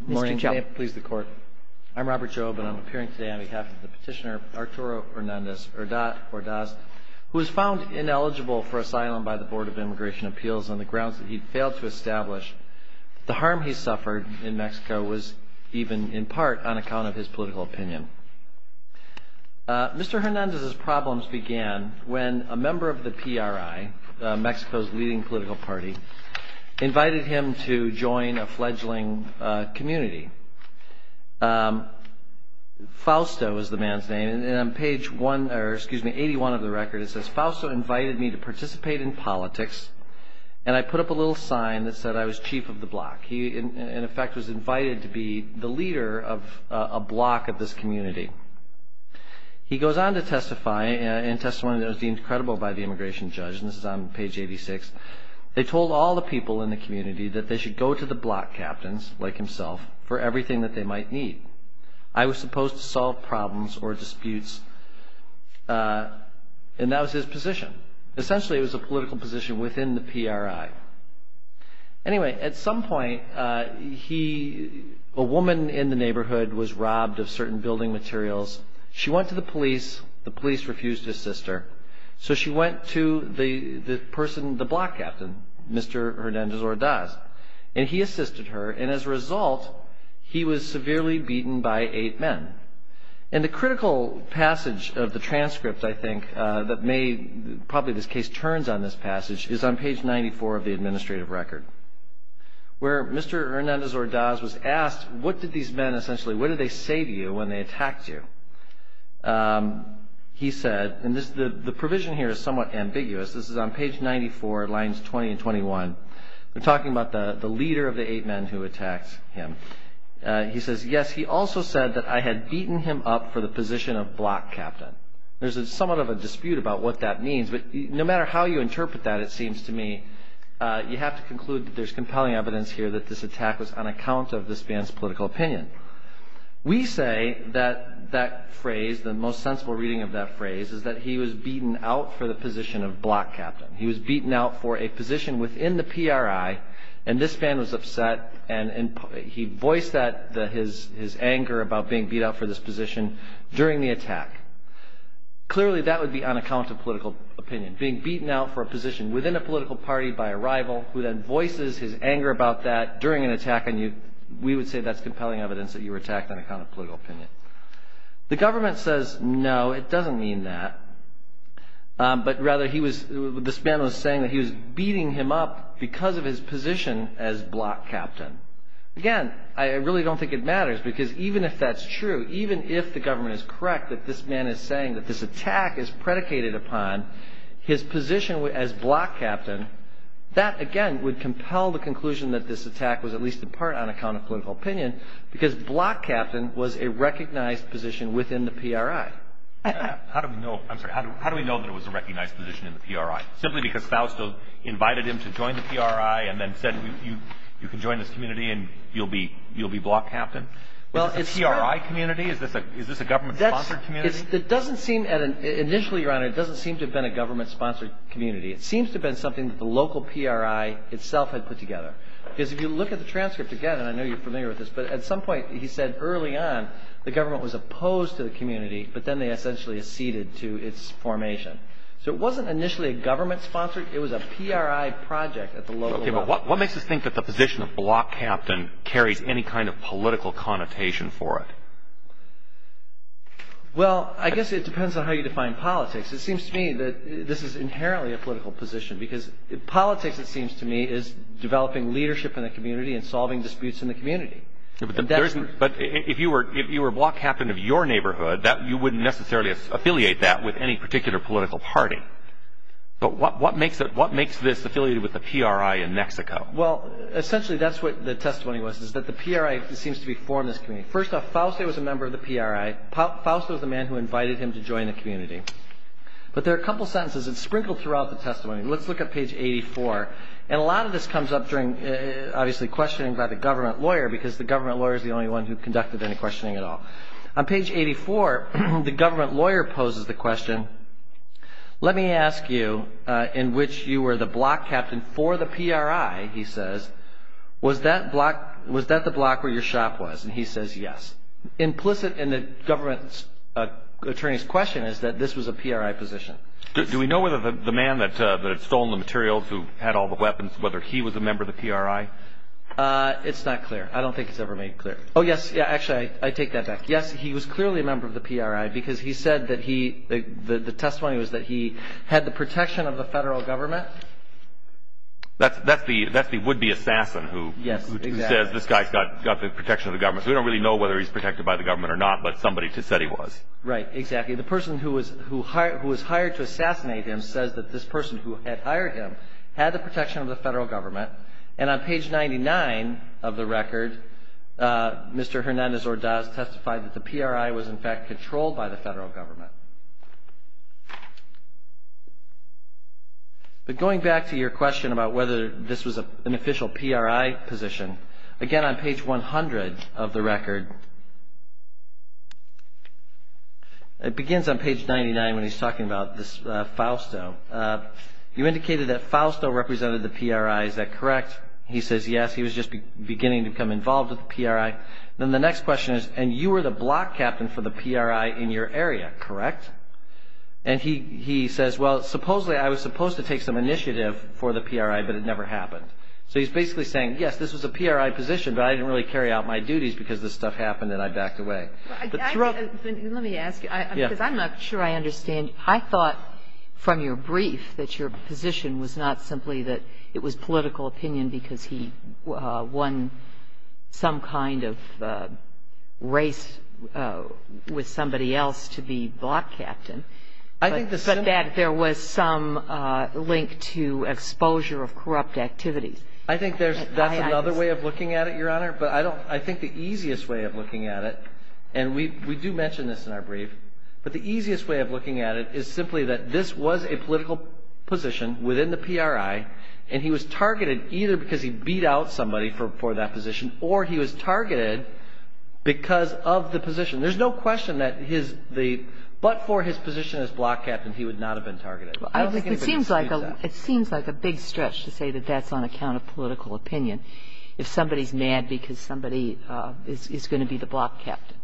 Good morning. May it please the Court. I'm Robert Jobe and I'm appearing today on behalf of the petitioner Arturo Hernández-Ordaz, who was found ineligible for asylum by the Board of Immigration Appeals on the grounds that he failed to establish that the harm he suffered in Mexico was even in part on account of his political opinion. Mr. Hernández's problems began when a member of the PRI, Mexico's leading political party, invited him to join a fledgling community. Fausto is the man's name, and on page 81 of the record it says, Fausto invited me to participate in politics and I put up a little sign that said I was chief of the block. He, in effect, was invited to be the leader of a block of this community. He goes on to testify in testimony that was deemed credible by the immigration judge, and this is on page 86. They told all the people in the community that they should go to the block captains, like himself, for everything that they might need. I was supposed to solve problems or disputes, and that was his position. Essentially, it was a political position within the PRI. Anyway, at some point, a woman in the neighborhood was robbed of certain building materials. She went to the police. The police refused to assist her, so she went to the person, the block captain, Mr. Hernández Ordaz, and he assisted her, and as a result, he was severely beaten by eight men. And the critical passage of the transcript, I think, that probably this case turns on this passage, is on page 94 of the administrative record, where Mr. Hernández Ordaz was asked, what did these men essentially, what did they say to you when they attacked you? He said, and the provision here is somewhat ambiguous. This is on page 94, lines 20 and 21. They're talking about the leader of the eight men who attacked him. He says, yes, he also said that I had beaten him up for the position of block captain. There's somewhat of a dispute about what that means, but no matter how you interpret that, it seems to me, you have to conclude that there's compelling evidence here that this attack was on account of this man's political opinion. We say that that phrase, the most sensible reading of that phrase, is that he was beaten out for the position of block captain. He was beaten out for a position within the PRI, and this man was upset, and he voiced his anger about being beat out for this position during the attack. Clearly, that would be on account of political opinion, being beaten out for a position within a political party by a rival, who then voices his anger about that during an attack on you. We would say that's compelling evidence that you were attacked on account of political opinion. The government says, no, it doesn't mean that, but rather he was, this man was saying that he was beating him up because of his position as block captain. Again, I really don't think it matters, because even if that's true, even if the government is correct that this man is saying that this attack is predicated upon his position as block captain, that, again, would compel the conclusion that this attack was at least a part on account of political opinion, because block captain was a recognized position within the PRI. How do we know, I'm sorry, how do we know that it was a recognized position in the PRI? Simply because Fausto invited him to join the PRI and then said, you can join this community and you'll be block captain? Is this a PRI community? Is this a government-sponsored community? It doesn't seem, initially, Your Honor, it doesn't seem to have been a government-sponsored community. It seems to have been something that the local PRI itself had put together. Because if you look at the transcript again, and I know you're familiar with this, but at some point he said early on the government was opposed to the community, but then they essentially acceded to its formation. So it wasn't initially a government-sponsored, it was a PRI project at the local level. Okay, but what makes us think that the position of block captain carries any kind of political connotation for it? Well, I guess it depends on how you define politics. It seems to me that this is inherently a political position, because politics, it seems to me, is developing leadership in the community and solving disputes in the community. But if you were block captain of your neighborhood, you wouldn't necessarily affiliate that with any particular political party. But what makes this affiliated with the PRI in Mexico? Well, essentially that's what the testimony was, is that the PRI seems to be formed in this community. First off, Fauci was a member of the PRI. Fauci was the man who invited him to join the community. But there are a couple sentences that sprinkle throughout the testimony. Let's look at page 84. And a lot of this comes up during, obviously, questioning by the government lawyer, because the government lawyer is the only one who conducted any questioning at all. On page 84, the government lawyer poses the question, let me ask you, in which you were the block captain for the PRI, he says, was that the block where your shop was? And he says, yes. Implicit in the government attorney's question is that this was a PRI position. Do we know whether the man that had stolen the materials, who had all the weapons, whether he was a member of the PRI? It's not clear. I don't think it's ever made clear. Oh, yes. Actually, I take that back. Yes, he was clearly a member of the PRI because he said that he, the testimony was that he had the protection of the federal government. That's the would-be assassin who says this guy's got the protection of the government. So we don't really know whether he's protected by the government or not, but somebody said he was. Right, exactly. The person who was hired to assassinate him says that this person who had hired him had the protection of the federal government. And on page 99 of the record, Mr. Hernandez-Ordaz testified that the PRI was, in fact, controlled by the federal government. But going back to your question about whether this was an official PRI position, again, on page 100 of the record, it begins on page 99 when he's talking about this Fausto. You indicated that Fausto represented the PRI. Is that correct? He says yes. He was just beginning to become involved with the PRI. Then the next question is, and you were the block captain for the PRI in your area, correct? And he says, well, supposedly I was supposed to take some initiative for the PRI, but it never happened. So he's basically saying, yes, this was a PRI position, but I didn't really carry out my duties because this stuff happened and I backed away. Let me ask you, because I'm not sure I understand. I thought from your brief that your position was not simply that it was political opinion because he won some kind of race with somebody else to be block captain, but that there was some link to exposure of corrupt activities. I think that's another way of looking at it, Your Honor. But I think the easiest way of looking at it, and we do mention this in our brief, but the easiest way of looking at it is simply that this was a political position within the PRI and he was targeted either because he beat out somebody for that position or he was targeted because of the position. There's no question that his the, but for his position as block captain, he would not have been targeted. I don't think anybody can dispute that. It seems like a big stretch to say that that's on account of political opinion if somebody's mad because somebody is going to be the block captain.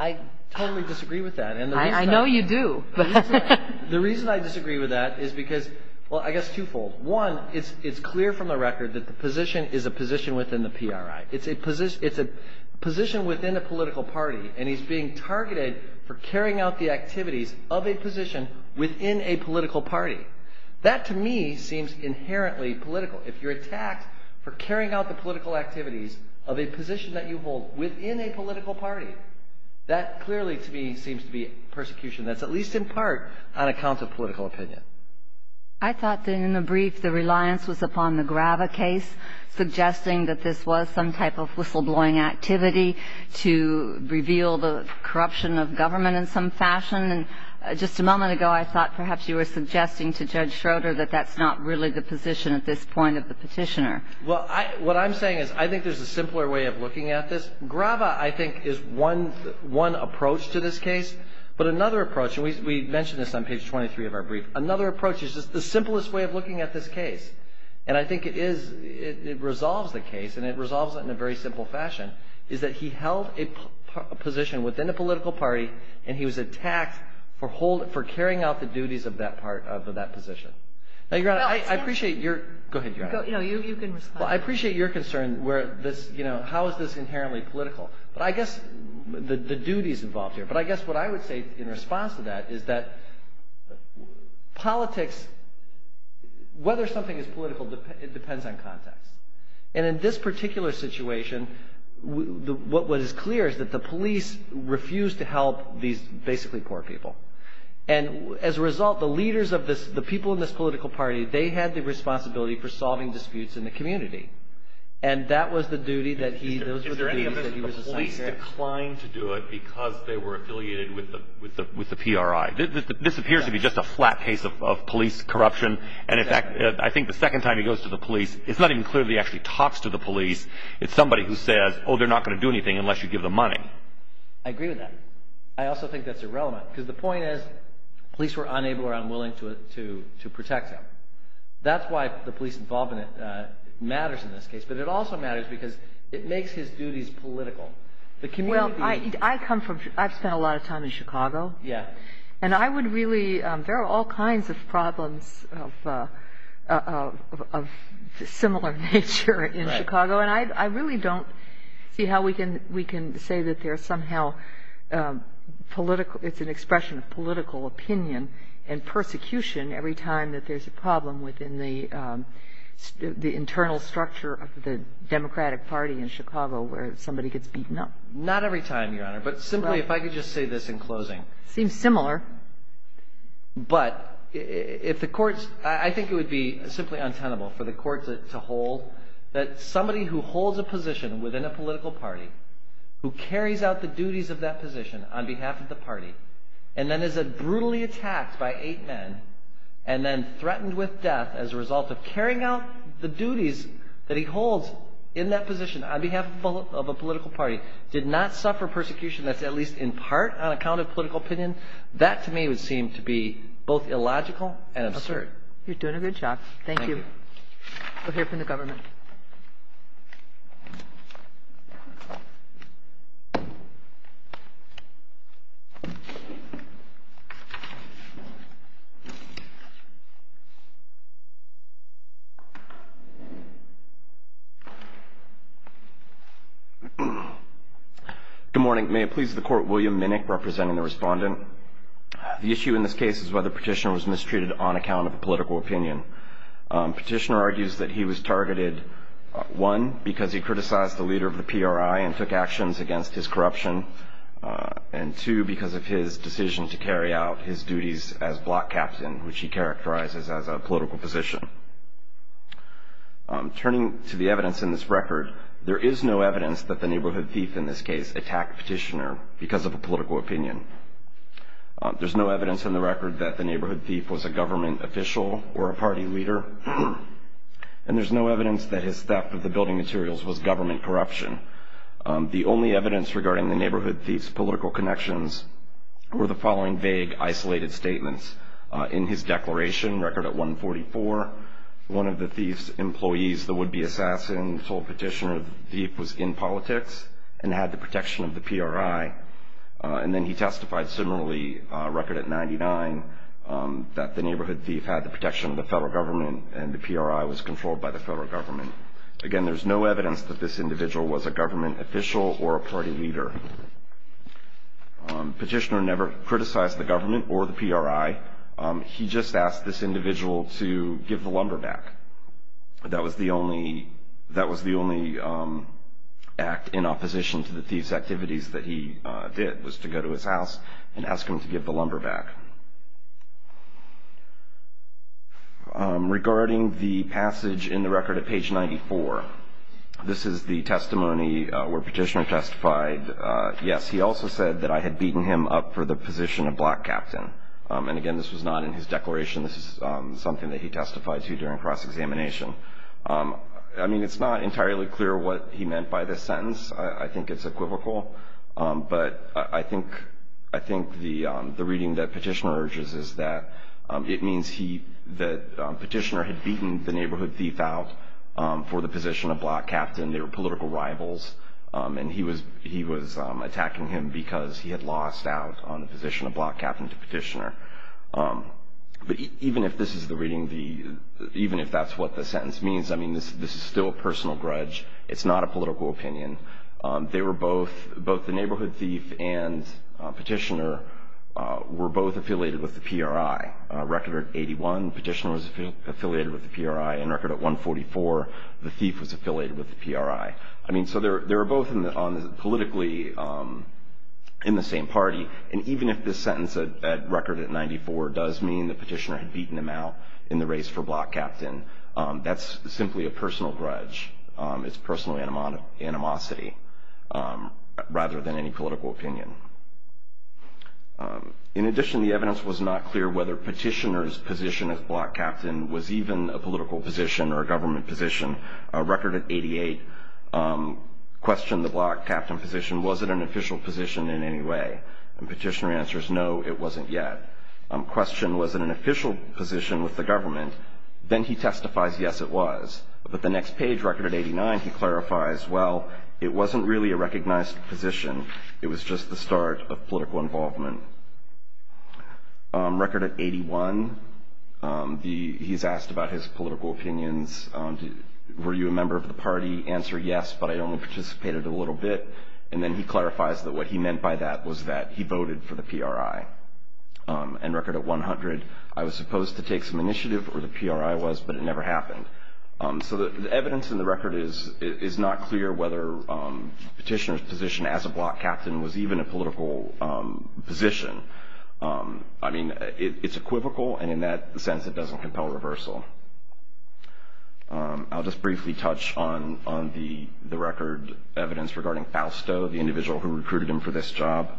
I totally disagree with that. I know you do. The reason I disagree with that is because, well, I guess twofold. One, it's clear from the record that the position is a position within the PRI. It's a position within a political party, and he's being targeted for carrying out the activities of a position within a political party. That, to me, seems inherently political. If you're attacked for carrying out the political activities of a position that you hold within a political party, that clearly to me seems to be persecution that's at least in part on account of political opinion. I thought that in the brief the reliance was upon the Grava case, suggesting that this was some type of whistleblowing activity to reveal the corruption of government in some fashion, and just a moment ago I thought perhaps you were suggesting to Judge Schroeder that that's not really the position at this point of the petitioner. Well, what I'm saying is I think there's a simpler way of looking at this. Grava, I think, is one approach to this case, but another approach, and we mentioned this on page 23 of our brief, another approach is just the simplest way of looking at this case, and I think it resolves the case, and it resolves it in a very simple fashion, is that he held a position within a political party, and he was attacked for carrying out the duties of that position. Now, Your Honor, I appreciate your concern where this, you know, how is this inherently political, but I guess the duties involved here, but I guess what I would say in response to that is that politics, whether something is political, it depends on context, and in this particular situation, what was clear is that the police refused to help these basically poor people, and as a result, the leaders of this, the people in this political party, they had the responsibility for solving disputes in the community, and that was the duty that he, those were the duties that he was assigned here. Is there any evidence that the police declined to do it because they were affiliated with the PRI? This appears to be just a flat case of police corruption, and in fact, I think the second time he goes to the police, it's not even clear that he actually talks to the police. It's somebody who says, oh, they're not going to do anything unless you give them money. I agree with that. I also think that's irrelevant because the point is police were unable or unwilling to protect him. That's why the police involvement matters in this case, but it also matters because it makes his duties political. Well, I come from, I've spent a lot of time in Chicago, and I would really, there are all kinds of problems of similar nature in Chicago, and I really don't see how we can say that there's somehow political, it's an expression of political opinion and persecution every time that there's a problem within the internal structure of the Democratic Party in Chicago where somebody gets beaten up. Not every time, Your Honor, but simply if I could just say this in closing. Seems similar. But if the courts, I think it would be simply untenable for the courts to hold that somebody who holds a position within a political party, who carries out the duties of that position on behalf of the party, and then is brutally attacked by eight men and then threatened with death as a result of carrying out the duties that he holds in that position on behalf of a political party, did not suffer persecution that's at least in part on account of political opinion, that to me would seem to be both illogical and absurd. You're doing a good job. Thank you. We'll hear from the government. Good morning. May it please the Court, William Minnick representing the respondent. The issue in this case is whether Petitioner was mistreated on account of political opinion. Petitioner argues that he was targeted, one, because he criticized the leader of the PRI and took actions against his corruption, and two, because of his decision to carry out his duties as block captain, which he characterizes as a political position. Turning to the evidence in this record, there is no evidence that the Neighborhood Thief in this case attacked Petitioner because of a political opinion. There's no evidence in the record that the Neighborhood Thief was a government official or a party leader, and there's no evidence that his theft of the building materials was government corruption. The only evidence regarding the Neighborhood Thief's political connections were the following vague, isolated statements. In his declaration, record at 144, one of the thief's employees, the would-be assassin, told Petitioner the thief was in politics and had the protection of the PRI, and then he testified similarly, record at 99, that the Neighborhood Thief had the protection of the federal government and the PRI was controlled by the federal government. Again, there's no evidence that this individual was a government official or a party leader. Petitioner never criticized the government or the PRI. He just asked this individual to give the lumber back. That was the only act in opposition to the thief's activities that he did, was to go to his house and ask him to give the lumber back. Regarding the passage in the record at page 94, this is the testimony where Petitioner testified, yes, he also said that I had beaten him up for the position of black captain. And again, this was not in his declaration. This is something that he testified to during cross-examination. I mean, it's not entirely clear what he meant by this sentence. I think it's equivocal. But I think the reading that Petitioner urges is that it means that Petitioner had beaten the Neighborhood Thief out for the position of black captain. They were political rivals, and he was attacking him because he had lost out on the position of black captain to Petitioner. But even if this is the reading, even if that's what the sentence means, I mean, this is still a personal grudge. It's not a political opinion. Both the Neighborhood Thief and Petitioner were both affiliated with the PRI. Record at 81, Petitioner was affiliated with the PRI. And record at 144, the Thief was affiliated with the PRI. I mean, so they were both politically in the same party. And even if this sentence at record at 94 does mean that Petitioner had beaten him out in the race for black captain, that's simply a personal grudge. It's personal animosity rather than any political opinion. In addition, the evidence was not clear whether Petitioner's position as black captain was even a political position or a government position. Record at 88 questioned the black captain position. Was it an official position in any way? And Petitioner answers, no, it wasn't yet. Question, was it an official position with the government? Then he testifies, yes, it was. But the next page, record at 89, he clarifies, well, it wasn't really a recognized position. It was just the start of political involvement. Record at 81, he's asked about his political opinions. Were you a member of the party? Answer, yes, but I only participated a little bit. And then he clarifies that what he meant by that was that he voted for the PRI. And record at 100, I was supposed to take some initiative, or the PRI was, but it never happened. So the evidence in the record is not clear whether Petitioner's position as a black captain was even a political position. I mean, it's equivocal, and in that sense, it doesn't compel reversal. I'll just briefly touch on the record evidence regarding Fausto, the individual who recruited him for this job.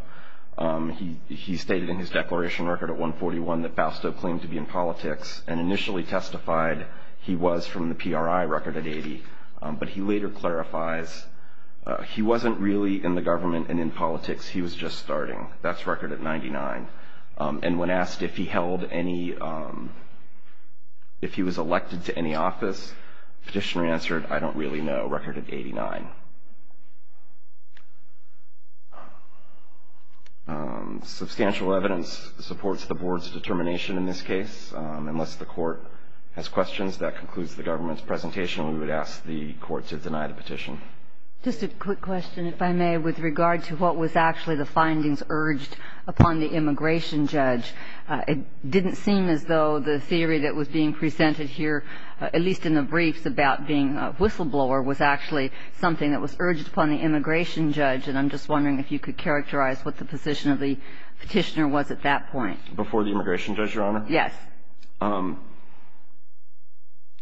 He stated in his declaration record at 141 that Fausto claimed to be in politics and initially testified he was from the PRI. Record at 80. But he later clarifies he wasn't really in the government and in politics. He was just starting. That's record at 99. And when asked if he held any, if he was elected to any office, Petitioner answered, I don't really know. Record at 89. Substantial evidence supports the Board's determination in this case. Unless the Court has questions, that concludes the government's presentation. We would ask the Court to deny the petition. Just a quick question, if I may, with regard to what was actually the findings urged upon the immigration judge. It didn't seem as though the theory that was being presented here, at least in the briefs about being a whistleblower, was actually something that was urged upon the immigration judge. And I'm just wondering if you could characterize what the position of the petitioner was at that point. Before the immigration judge, Your Honor? Yes.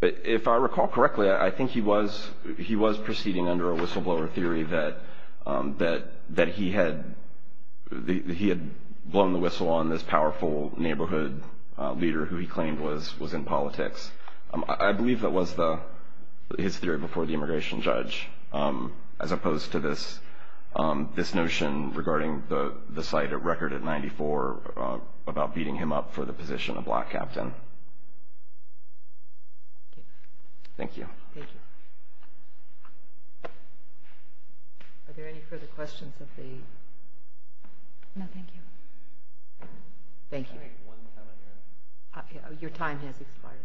If I recall correctly, I think he was proceeding under a whistleblower theory that he had blown the whistle on this powerful neighborhood leader who he claimed was in politics. I believe that was his theory before the immigration judge, as opposed to this notion regarding the site at Record at 94, about beating him up for the position of black captain. Thank you. Thank you. Are there any further questions of the? No, thank you. Thank you. Can I make one comment, Your Honor? Your time has expired.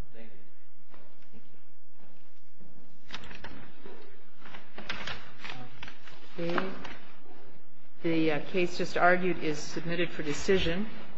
Thank you. Thank you.